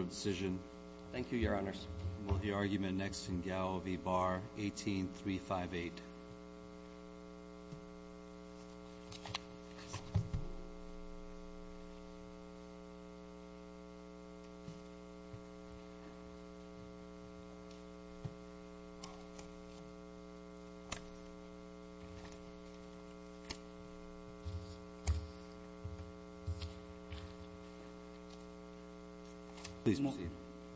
18358.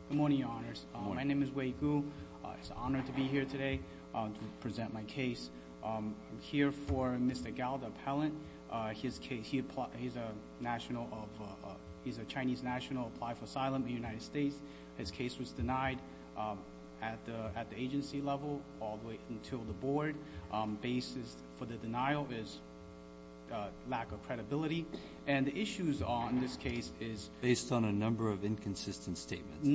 Good morning, Your Honors. My name is Wei Gu. It's an honor to be here today to present my case. I'm here for Mr. Gao, the appellant. He's a Chinese national who applied for asylum in the United States. His case was denied at the agency level all the way until the a number of inconsistent statements,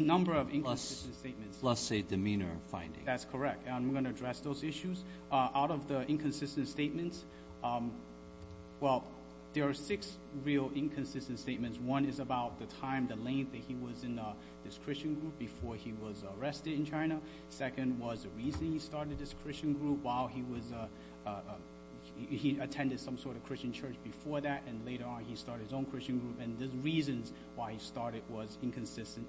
plus a demeanor finding. That's correct. I'm going to address those issues. Out of the inconsistent statements, well, there are six real inconsistent statements. One is about the time, the length that he was in this Christian group before he was arrested in China. Second was the reason he started this Christian group while he attended some sort of Christian church before that, and later on he started his own Christian group, and the reasons why he started was inconsistent.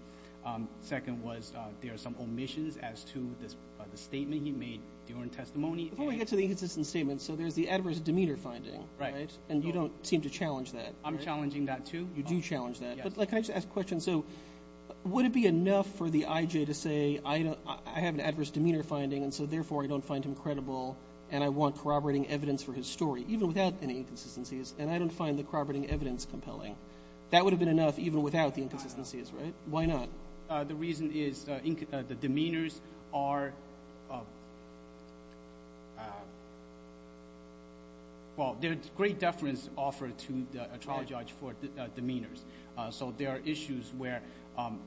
Second was there are some omissions as to the statement he made during testimony. Before we get to the inconsistent statements, so there's the adverse demeanor finding, right? And you don't seem to challenge that. I'm challenging that too. You do challenge that. But can I just ask a question? So would it be enough for the IJ to say, I have an adverse demeanor finding, and so therefore I don't find him credible, and I want corroborating evidence for his story, even without any inconsistencies, and I don't find the corroborating evidence compelling? That would have been enough even without the inconsistencies, right? Why not? The reason is the demeanors are — well, there's great deference offered to a trial judge for demeanors. So there are issues where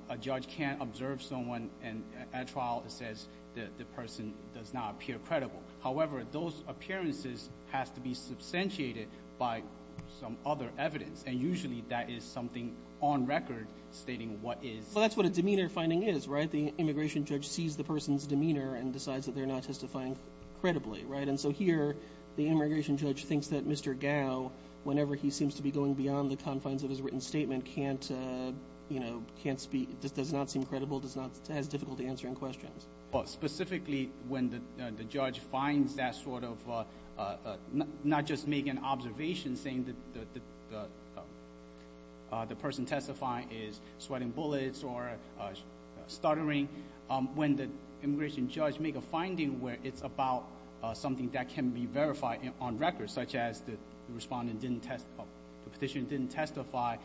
a judge can't observe someone, and at trial it says the person does not appear credible. However, those appearances have to be substantiated by some other evidence, and usually that is something on record stating what is — Well, that's what a demeanor finding is, right? The immigration judge sees the person's demeanor and decides that they're not testifying credibly, right? And so here, the immigration judge thinks that Mr. Gao, whenever he seems to be going beyond the confines of his written statement, can't — you know, can't speak — does not seem credible, does not — has difficulty answering questions. Well, specifically when the judge finds that sort of — not just make an observation saying the person testifying is sweating bullets or stuttering. When the immigration judge make a finding where it's about something that can be verified on record, such as the respondent didn't test — the petitioner didn't testify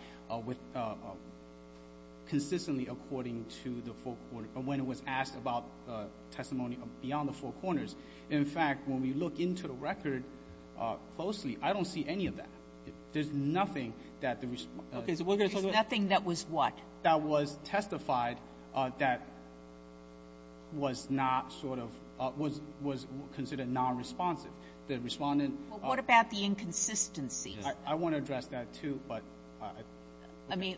with — consistently according to the four corners — when it was asked about testimony beyond the four corners. In fact, when we look into the record closely, I don't see any of that. There's nothing that the — Okay. So we're going to talk about — There's nothing that was what? That was testified that was not sort of — was considered nonresponsive. The respondent — Well, what about the inconsistency? I want to address that, too, but — I mean,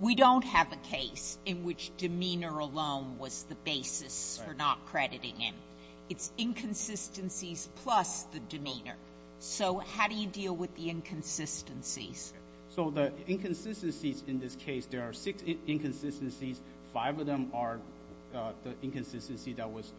we don't have a case in which demeanor alone was the basis for not crediting him. It's inconsistencies plus the demeanor. So how do you deal with the inconsistencies? So the inconsistencies in this case — there are six inconsistencies. Five of them are the inconsistency that was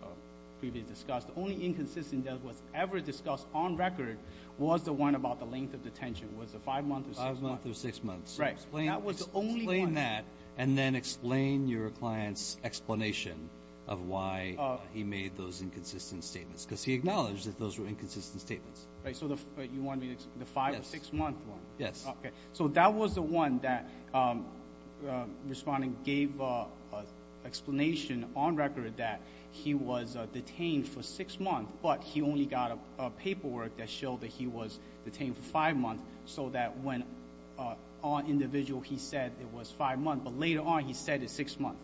previously discussed. The only inconsistency that was ever discussed on record was the one about the length of detention. Was it five months or six months? Right. That was the only one. Explain that, and then explain your client's explanation of why he made those inconsistent statements, because he acknowledged that those were inconsistent statements. Right. So you want me to — the five- or six-month one? Yes. Okay. So that was the one that the respondent gave an explanation on record that he was detained for six months, but he only got a paperwork that showed that he was detained for five months so that when on individual he said it was five months, but later on he said it's six months.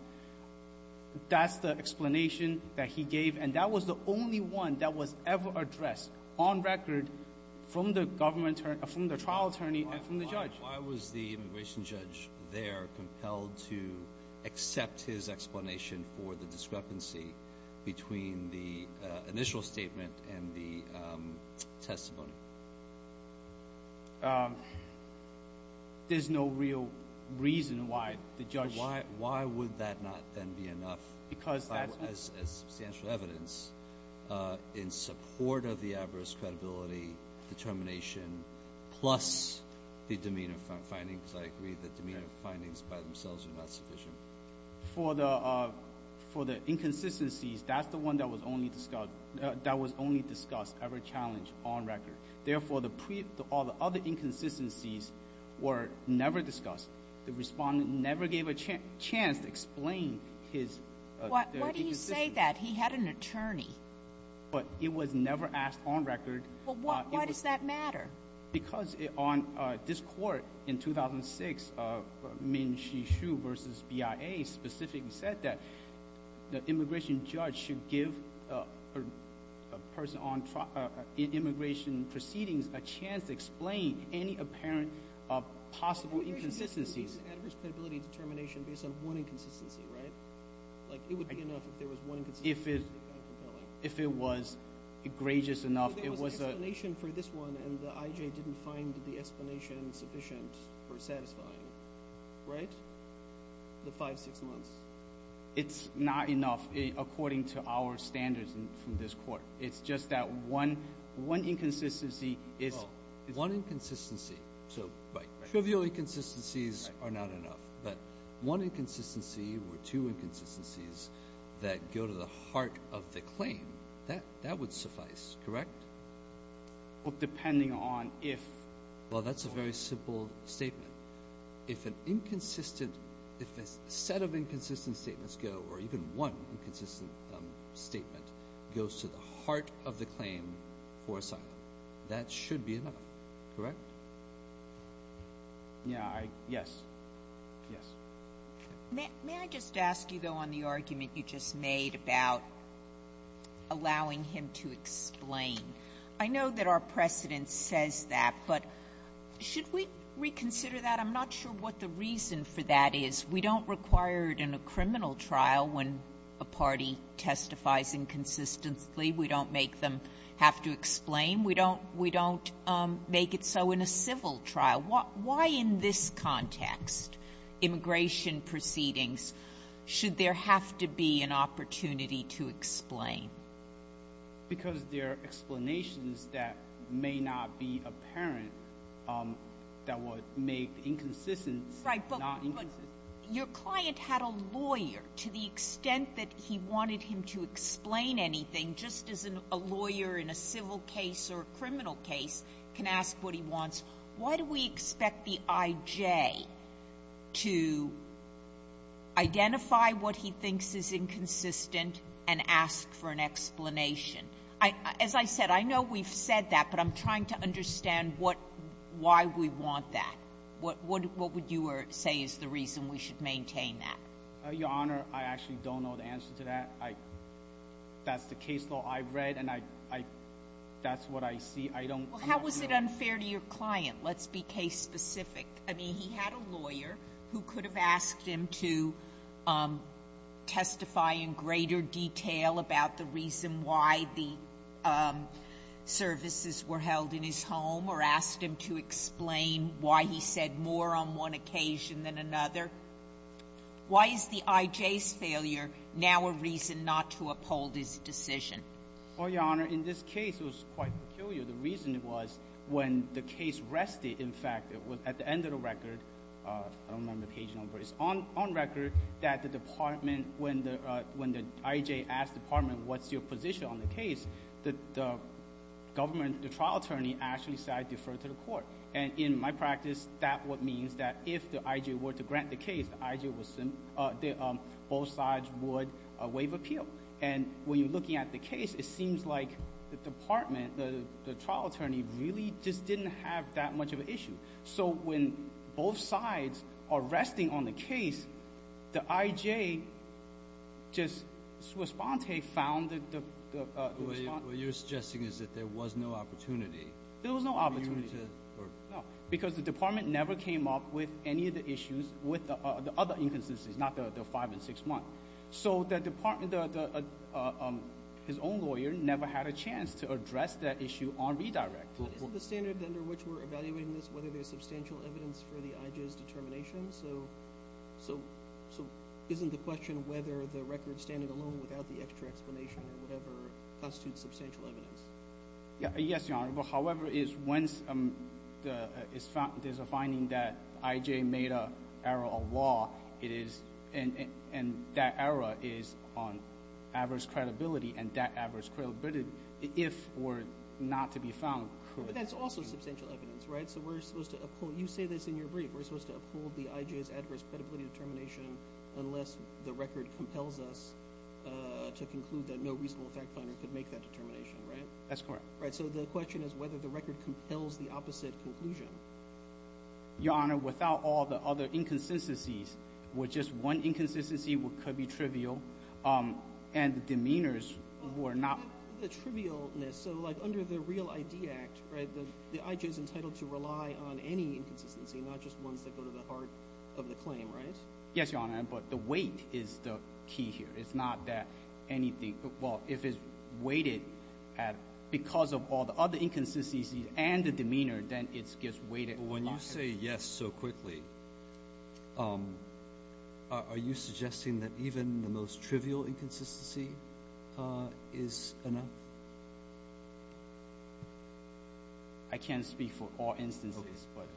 That's the explanation that he gave, and that was the only one that was ever addressed on record from the government — from the trial attorney and from the judge. Why was the immigration judge there compelled to accept his explanation for the discrepancy between the initial statement and the testimony? There's no real reason why the judge — Why would that not then be enough as substantial evidence in support of the adverse credibility determination plus the demeanor findings? I agree the demeanor findings by themselves are not sufficient. For the inconsistencies, that's the one that was only discussed — that was only discussed ever challenged on record. Therefore, all the other inconsistencies were never discussed. The respondent never gave a chance to explain his — Why do you say that? He had an attorney. But it was never asked on record. Well, why does that matter? Because on this court in 2006, Ming-Chi Hsu v. BIA specifically said that the immigration judge should give a person on immigration proceedings a chance to explain any apparent possible inconsistencies. But there is an adverse credibility determination based on one inconsistency, right? Like, it would be enough if there was one inconsistency. If it was egregious enough, it was — But the explanation for this one and the I.J. didn't find the explanation sufficient or satisfying, right? The five, six months. It's not enough according to our standards from this court. It's just that one inconsistency is — One inconsistency. So trivial inconsistencies are not enough. But one inconsistency or two inconsistencies that go to the heart of the claim, that would suffice, correct? Well, depending on if — Well, that's a very simple statement. If an inconsistent — if a set of inconsistent statements go, or even one inconsistent statement goes to the heart of the claim for asylum, that should be enough, correct? Yeah, I — yes. Yes. May I just ask you, though, on the argument you just made about allowing him to explain — I know that our precedent says that, but should we reconsider that? I'm not sure what the reason for that is. We don't require it in a criminal trial when a party testifies inconsistently. We don't make them have to explain. We don't — we don't make it so in a civil trial. Why in this context, immigration proceedings, should there have to be an opportunity to explain? Because there are explanations that may not be apparent that would make the inconsistency not inconsistent. Right. But your client had a lawyer. To the extent that he wanted him to explain anything, just as a lawyer in a civil case or a criminal case can ask what he wants, why do we expect the I.J. to identify what he thinks is inconsistent and ask for an explanation? I — as I said, I know we've said that, but I'm trying to understand what — why we want that. What would you say is the reason we should maintain that? Your Honor, I actually don't know the answer to that. I — that's the case law I've read, and I — that's what I see. I don't — Well, how was it unfair to your client? Let's be case-specific. I mean, he had a lawyer who could have asked him to testify in greater detail about the reason why the services were held in his home or asked him to explain why he said more on one occasion than another. Why is the I.J.'s failure now a reason not to uphold his decision? Well, Your Honor, in this case, it was quite peculiar. The reason was when the case rested, in fact, it was at the end of the record — I don't remember the page number — it's on record that the department, when the — when the I.J. asked the department, what's your position on the case, the government, the trial attorney, actually said, defer to the court. And in my practice, that what means that if the I.J. were to grant the case, the I.J. would — both sides would waive appeal. And when you're looking at the case, it seems like the department, the trial attorney, really just didn't have that much of an issue. So when both sides are resting on the case, the I.J. just swispante found the — What you're suggesting is that there was no opportunity for you to — There was no opportunity. No, because the department never came up with any of the issues with the other inconsistencies, not the five and six months. So the department — his own lawyer — never had a chance to address that issue on redirect. But isn't the standard under which we're evaluating this whether there's substantial evidence for the I.J.'s determination? So — so — so isn't the question whether the record standing alone without the extra explanation or whatever constitutes substantial evidence? Yes, Your Honor. However, it's — once the — there's a finding that I.J. made an error of law, it is — and — and that error is on adverse credibility, and that adverse credibility, if or not to be found, could — But that's also substantial evidence, right? So we're supposed to uphold — you say this in your brief — we're supposed to uphold the I.J.'s adverse credibility determination unless the record compels us to conclude that no reasonable fact finder could make that determination, right? That's correct. Right. So the question is whether the record compels the opposite conclusion. Your Honor, without all the other inconsistencies, with just one inconsistency, what could be trivial and the demeanors were not — The trivialness. So, like, under the Real I.D. Act, right, the I.J.'s entitled to rely on any inconsistency, not just ones that go to the heart of the claim, right? Yes, Your Honor, but the weight is the key here. It's not that anything — well, if it's weighted at — because of all the other inconsistencies and the demeanor, then it When you say yes so quickly, are you suggesting that even the most trivial inconsistency is enough? I can't speak for all instances, but — Okay.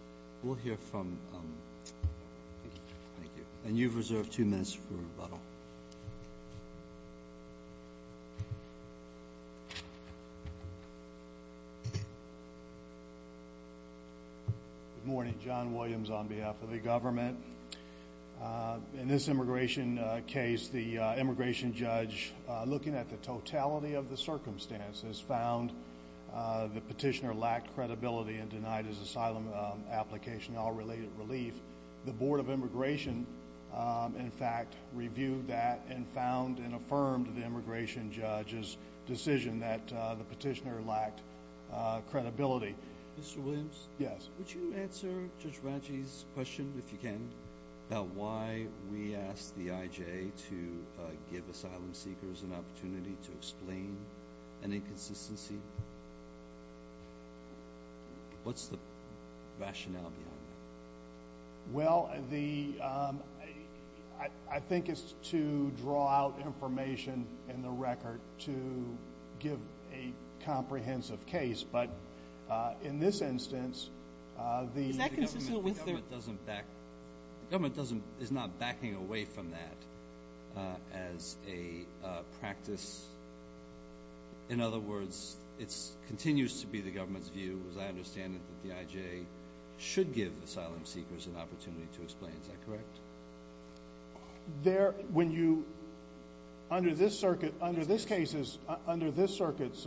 We'll hear from — thank you. And you've reserved two minutes for rebuttal. Good morning. John Williams on behalf of the government. In this immigration case, the immigration judge, looking at the totality of the circumstances, found the petitioner lacked credibility and denied his asylum application all-related relief. The Board of Immigration, in fact, reviewed that and found and affirmed the immigration judge's decision that the petitioner lacked credibility. Mr. Williams? Yes. Would you answer Judge Radji's question, if you can, about why we asked the IJ to give asylum seekers an opportunity to explain an inconsistency? What's the rationale behind that? Well, the — I think it's to draw out information in the record to give a comprehensive case, but in this instance, the — Is that consistent with the — The government doesn't back — the government doesn't — is not backing away from that as a practice. In other words, it continues to be the government's view, as I understand it, that the IJ should give asylum seekers an opportunity to explain. Is that correct? There — when you — under this circuit — under this case's — under this circuit's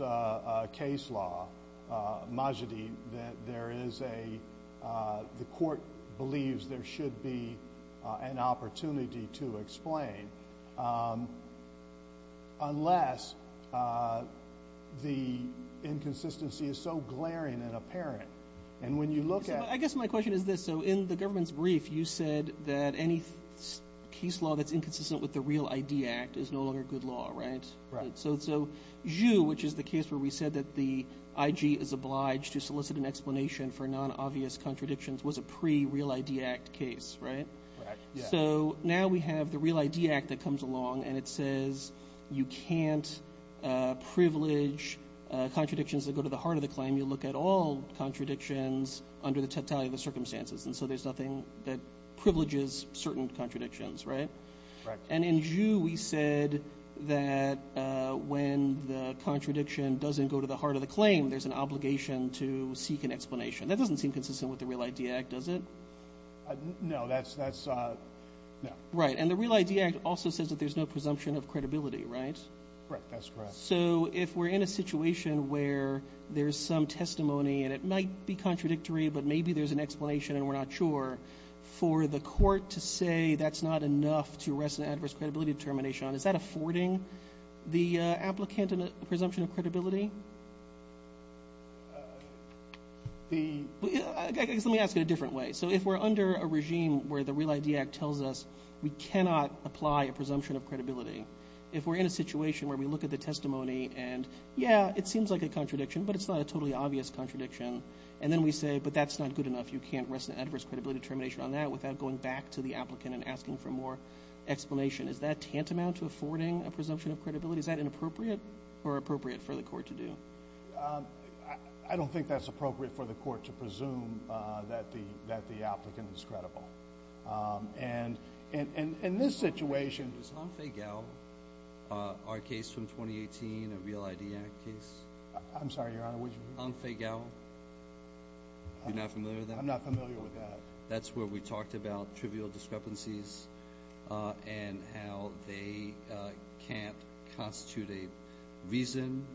case law, Majidi, that there is a — the court believes there should be an opportunity to explain, unless the inconsistency is so glaring and apparent. And when you look at — I guess my question is this. So, in the government's brief, you said that any case law that's inconsistent with the Real ID Act is no longer good law, right? Right. So, Zhu, which is the case where we said that the IJ is obliged to solicit an explanation for non-obvious contradictions, was a pre-Real ID Act case, right? Right, yeah. So, now we have the Real ID Act that comes along, and it says you can't privilege contradictions that go to the heart of the claim. You look at all contradictions under the totality of the circumstances, and so there's nothing that privileges certain contradictions, right? Right. And in Zhu, we said that when the contradiction doesn't go to the heart of the claim, there's an obligation to seek an explanation. That doesn't seem consistent with the Real ID Act, does it? No, that's — no. Right. And the Real ID Act also says that there's no presumption of credibility, right? Right, that's correct. So, if we're in a situation where there's some testimony, and it might be contradictory, but maybe there's an explanation and we're not sure, for the court to say that's not enough to arrest an adverse credibility determination on, is that affording the applicant a presumption of credibility? The — Let me ask it a different way. So, if we're under a regime where the Real ID Act tells us we cannot apply a presumption of credibility, if we're in a situation where we look at the testimony and, yeah, it seems like a contradiction, but it's not a totally obvious contradiction, and then we say, but that's not good enough, you can't arrest an adverse credibility determination on that without going back to the applicant and asking for more explanation, is that tantamount to affording a presumption of credibility? Is that inappropriate or appropriate for the court to do? I don't think that's appropriate for the court to presume that the applicant is credible. And in this situation — Your Honor, is Hongfei Gao, our case from 2018, a Real ID Act case? I'm sorry, Your Honor, would you — Hongfei Gao. You're not familiar with that? I'm not familiar with that. That's where we talked about trivial discrepancies and how they can't constitute a reason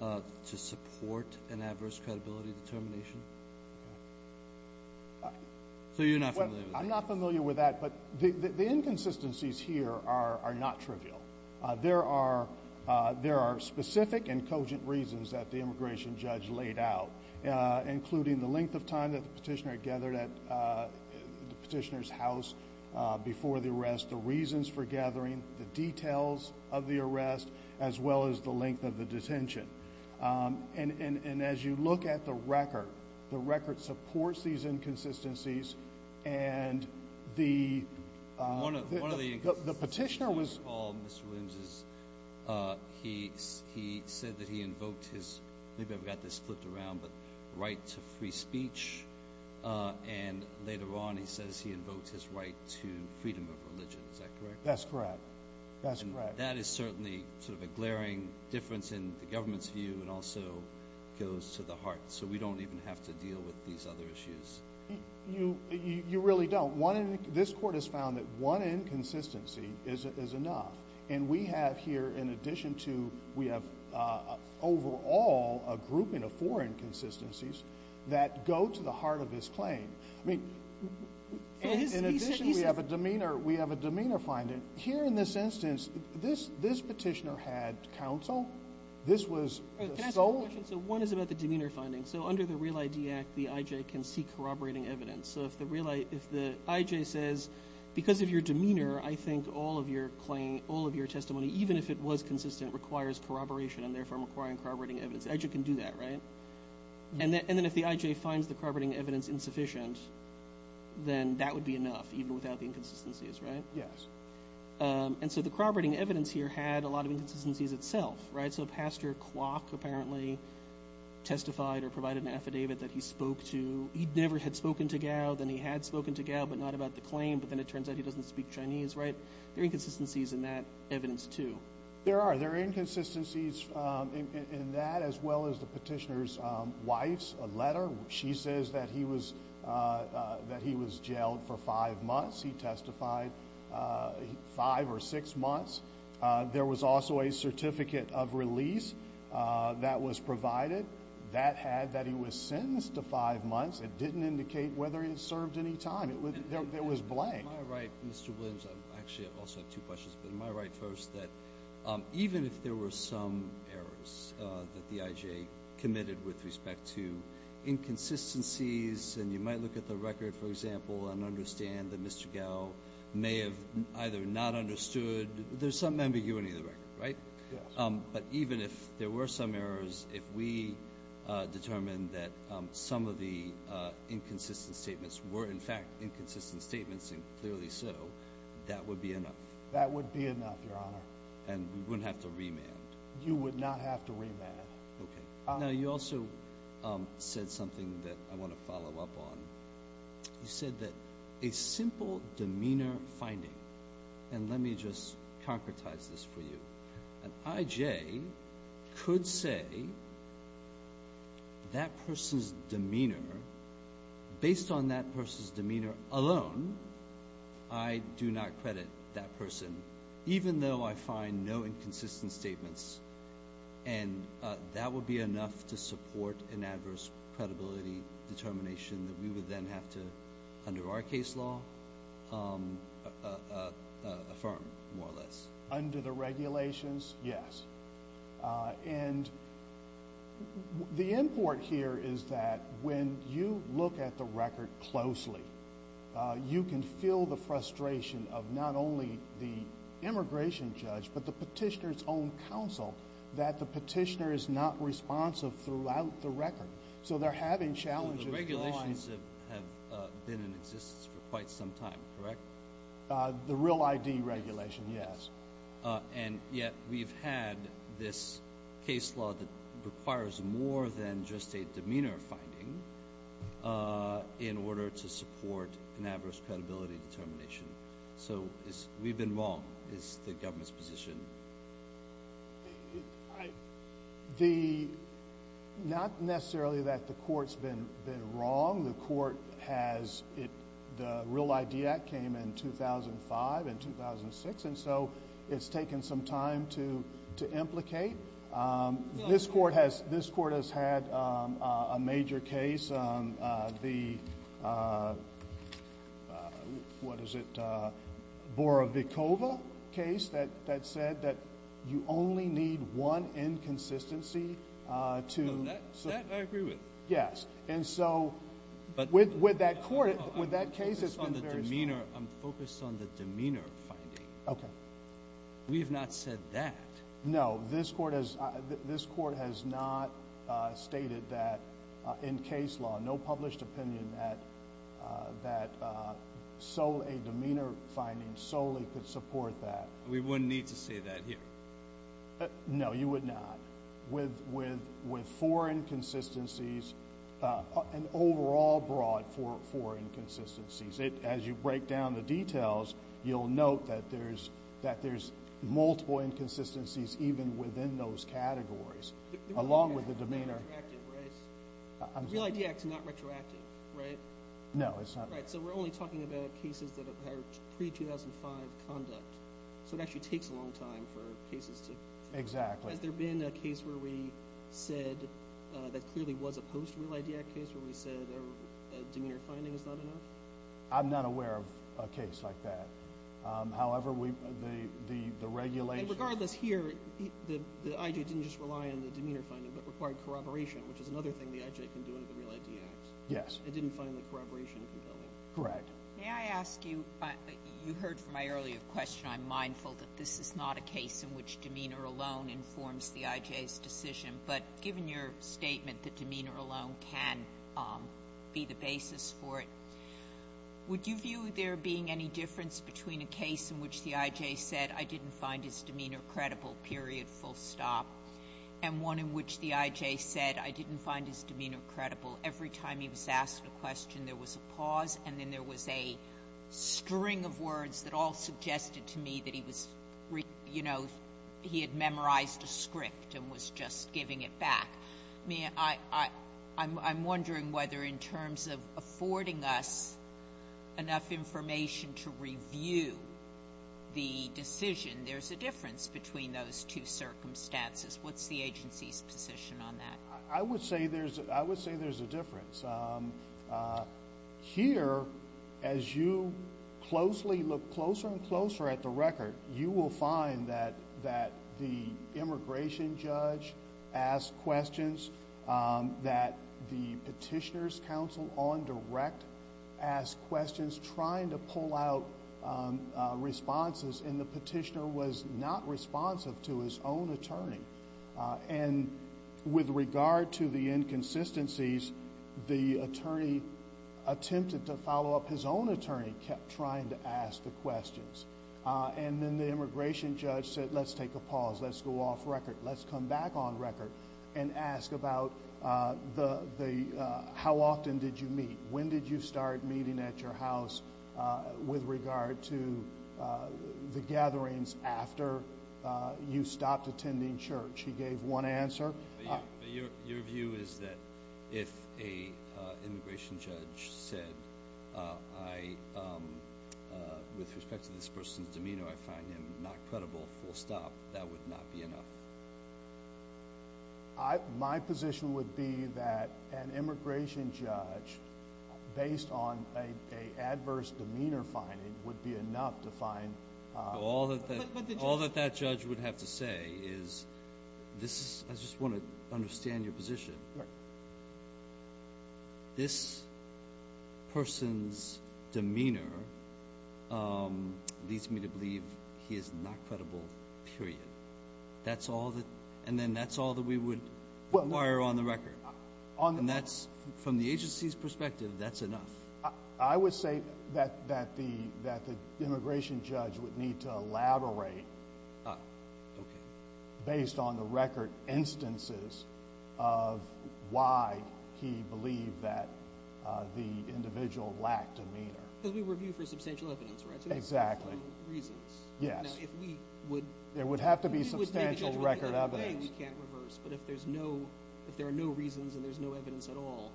to support an adverse credibility determination. Okay. So you're not familiar with that? I'm not familiar with that, but the inconsistencies here are not trivial. There are specific and cogent reasons that the immigration judge laid out, including the length of time that the petitioner had gathered at the petitioner's house before the arrest, the reasons for gathering, the details of the arrest, as well as the length of the detention. And as you look at the record, the record supports these inconsistencies and the — One of the — The petitioner was — Mr. Williams, he said that he invoked his — maybe I've got this flipped around — but right to free speech, and later on he says he invoked his right to freedom of religion. Is that correct? That's correct. That's correct. That is certainly sort of a glaring difference in the government's view, and also goes to the heart. So we don't even have to deal with these other issues. You really don't. One — this court has found that one inconsistency is enough. And we have here, in addition to — we have overall a grouping of four inconsistencies that go to the heart of this claim. I mean — He said — In addition, we have a demeanor — we have a demeanor finding. Here in this instance, this petitioner had counsel. This was — Can I ask a question? So one is about the demeanor finding. So under the Real ID Act, the I.J. can seek corroborating evidence. So if the real — if the I.J. says, because of your demeanor, I think all of your claim — all of your testimony, even if it was consistent, requires corroboration, and therefore requiring corroborating evidence, the I.J. can do that, right? And then if the I.J. finds the corroborating evidence insufficient, then that would be enough, even without the inconsistencies, right? Yes. And so the corroborating evidence here had a lot of inconsistencies itself, right? So Pastor Kwok apparently testified or provided an affidavit that he spoke to — he never had spoken to Gao. Then he had spoken to Gao, but not about the claim. But then it turns out he doesn't speak Chinese, right? There are inconsistencies in that evidence, too. There are. There are inconsistencies in that, as well as the petitioner's wife's letter. She says that he was — that he was jailed for five months. He testified five or six months. There was also a certificate of release that was provided. That had that he was sentenced to five months. It didn't indicate whether he served any time. There was blank. Am I right, Mr. Williams — actually, I also have two questions, but am I right, first, that even if there were some errors that the I.J. committed with respect to inconsistencies and you might look at the record, for example, and understand that Mr. Gao may have either not understood — there's some ambiguity in the record, right? Yes. But even if there were some errors, if we determined that some of the inconsistent statements were, in fact, inconsistent statements, and clearly so, that would be enough? That would be enough, Your Honor. And we wouldn't have to remand? You would not have to remand. Okay. Now, you also said something that I want to follow up on. You said that a simple demeanor finding — and let me just concretize this for you. An I.J. could say that person's demeanor, based on that person's demeanor alone, I do not credit that person, even though I find no inconsistent statements. And that would be enough to support an adverse credibility determination that we would then have to, under our case law, affirm, more or less? Under the regulations, yes. And the import here is that when you look at the record closely, you can feel the frustration of not only the immigration judge, but the petitioner's own counsel, that the petitioner is not responsive throughout the record. So, they're having challenges. So, the regulations have been in existence for quite some time, correct? The real I.D. regulation, yes. And yet, we've had this case law that requires more than just a demeanor finding in order to support an adverse credibility determination. So, we've been wrong, is the government's position. The — not necessarily that the court's been wrong. The court has — the real I.D. Act came in 2005 and 2006, and so it's taken some time to implicate. This court has had a major case, the — what is it — Borovikova case that said that you only need one inconsistency to — No, that I agree with. Yes. And so, with that court — with that case, it's been very — No, I'm focused on the demeanor. I'm focused on the demeanor finding. Okay. We have not said that. No, this court has not stated that in case law, no published opinion that a demeanor finding solely could support that. We wouldn't need to say that here. No, you would not. With four inconsistencies, and overall broad four inconsistencies, as you break down the inconsistencies even within those categories, along with the demeanor — The real I.D. Act is not retroactive, right? I'm sorry? The real I.D. Act is not retroactive, right? No, it's not. Right, so we're only talking about cases that are pre-2005 conduct. So it actually takes a long time for cases to — Exactly. Has there been a case where we said — that clearly was a post-real I.D. Act case where we said a demeanor finding is not enough? I'm not aware of a case like that. However, we — the regulation — Regardless here, the I.J. didn't just rely on the demeanor finding, but required corroboration, which is another thing the I.J. can do under the real I.D. Act. Yes. It didn't find the corroboration compelling. Correct. May I ask you — you heard from my earlier question, I'm mindful that this is not a case in which demeanor alone informs the I.J.'s decision, but given your statement that demeanor alone can be the basis for it, would you view there being any difference between a case in which the I.J. said, I didn't find his demeanor credible, period, full stop, and one in which the I.J. said, I didn't find his demeanor credible? Every time he was asked a question, there was a pause, and then there was a string of words that all suggested to me that he was — you know, he had memorized a script and was just giving it back. I mean, I'm wondering whether in terms of affording us enough information to review the decision, there's a difference between those two circumstances. What's the agency's position on that? I would say there's a difference. Here, as you closely look closer and closer at the record, you will find that the immigration judge asked questions, that the petitioner's counsel on direct asked questions trying to get responses, and the petitioner was not responsive to his own attorney. And with regard to the inconsistencies, the attorney attempted to follow up. His own attorney kept trying to ask the questions. And then the immigration judge said, let's take a pause. Let's go off record. Let's come back on record and ask about the — how often did you meet? When did you start meeting at your house with regard to the gatherings after you stopped attending church? He gave one answer. But your view is that if a immigration judge said, I — with respect to this person's demeanor, I find him not credible full stop, that would not be enough? My position would be that an immigration judge, based on an adverse demeanor finding, would be enough to find — All that that judge would have to say is, this is — I just want to understand your position. This person's demeanor leads me to believe he is not credible, period. That's all that — and then that's all that we would require on the record. And that's — from the agency's perspective, that's enough. I would say that the immigration judge would need to elaborate, based on the record instances of why he believed that the individual lacked demeanor. Because we review for substantial evidence, right? Exactly. For reasons. Yes. If we would — There would have to be substantial record evidence. We can't reverse. But if there's no — if there are no reasons and there's no evidence at all,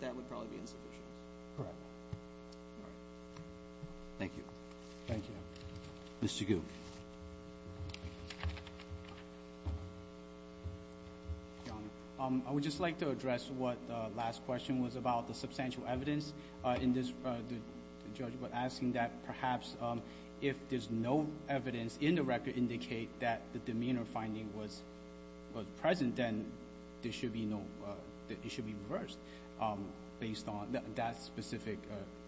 that would probably be insufficient. Correct. All right. Thank you. Thank you. Mr. Gu? I would just like to address what the last question was about, the substantial evidence in this — the judge was asking that perhaps if there's no evidence in the record indicating that the demeanor finding was present, then there should be no — it should be reversed based on that specific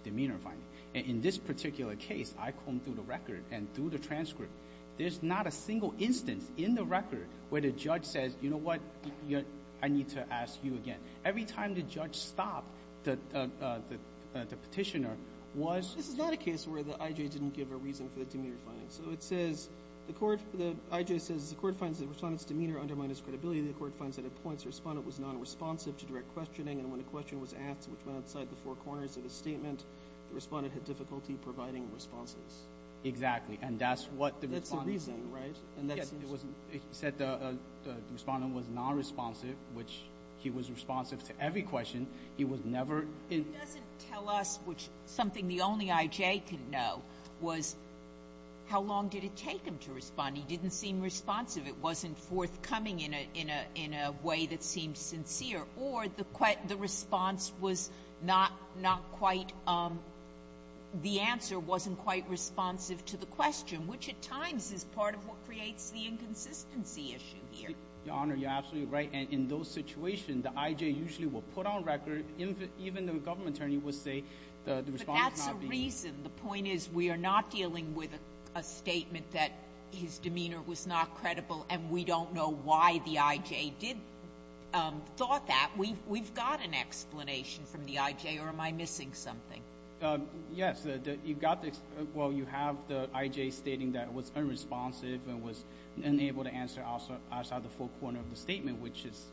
demeanor finding. In this particular case, I combed through the record and through the transcript, there's not a single instance in the record where the judge says, you know what, I need to ask you again. Every time the judge stopped the petitioner was — This is not a case where the I.J. didn't give a reason for the demeanor finding. So it says, the court — the I.J. says, the court finds the respondent's demeanor undermined his credibility. The court finds that at points, the respondent was nonresponsive to direct questioning, and when a question was asked, which went outside the four corners of his statement, the respondent had difficulty providing responses. Exactly. And that's what the respondent — That's the reasoning, right? And that's — He said the respondent was nonresponsive, which he was responsive to every question. He was never — It doesn't tell us, which is something the only I.J. can know, was how long did it take him to respond. He didn't seem responsive. It wasn't forthcoming in a way that seemed sincere. Or the response was not quite — the answer wasn't quite responsive to the question, which at times is part of what creates the inconsistency issue here. Your Honor, you're absolutely right. And in those situations, the I.J. usually will put on record — even the government attorney will say the respondent's not being — But that's the reason. The point is, we are not dealing with a statement that his demeanor was not credible, and we don't know why the I.J. did — thought that. We've got an explanation from the I.J., or am I missing something? Yes. You've got the — well, you have the I.J. stating that was unresponsive and was unable to answer outside the full corner of the statement, which is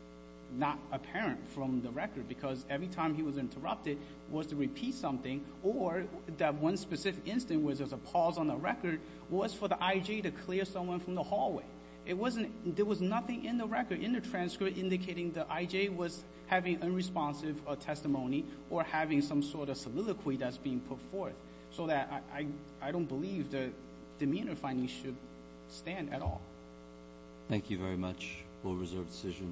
not apparent from the record. Because every time he was interrupted, was to repeat something, or that one specific instance where there's a pause on the record was for the I.J. to clear someone from the hallway. It wasn't — there was nothing in the record, in the transcript, indicating the I.J. was having unresponsive testimony or having some sort of soliloquy that's being put forth. So that — I don't believe the demeanor findings should stand at all. Thank you very much. We'll reserve the decision.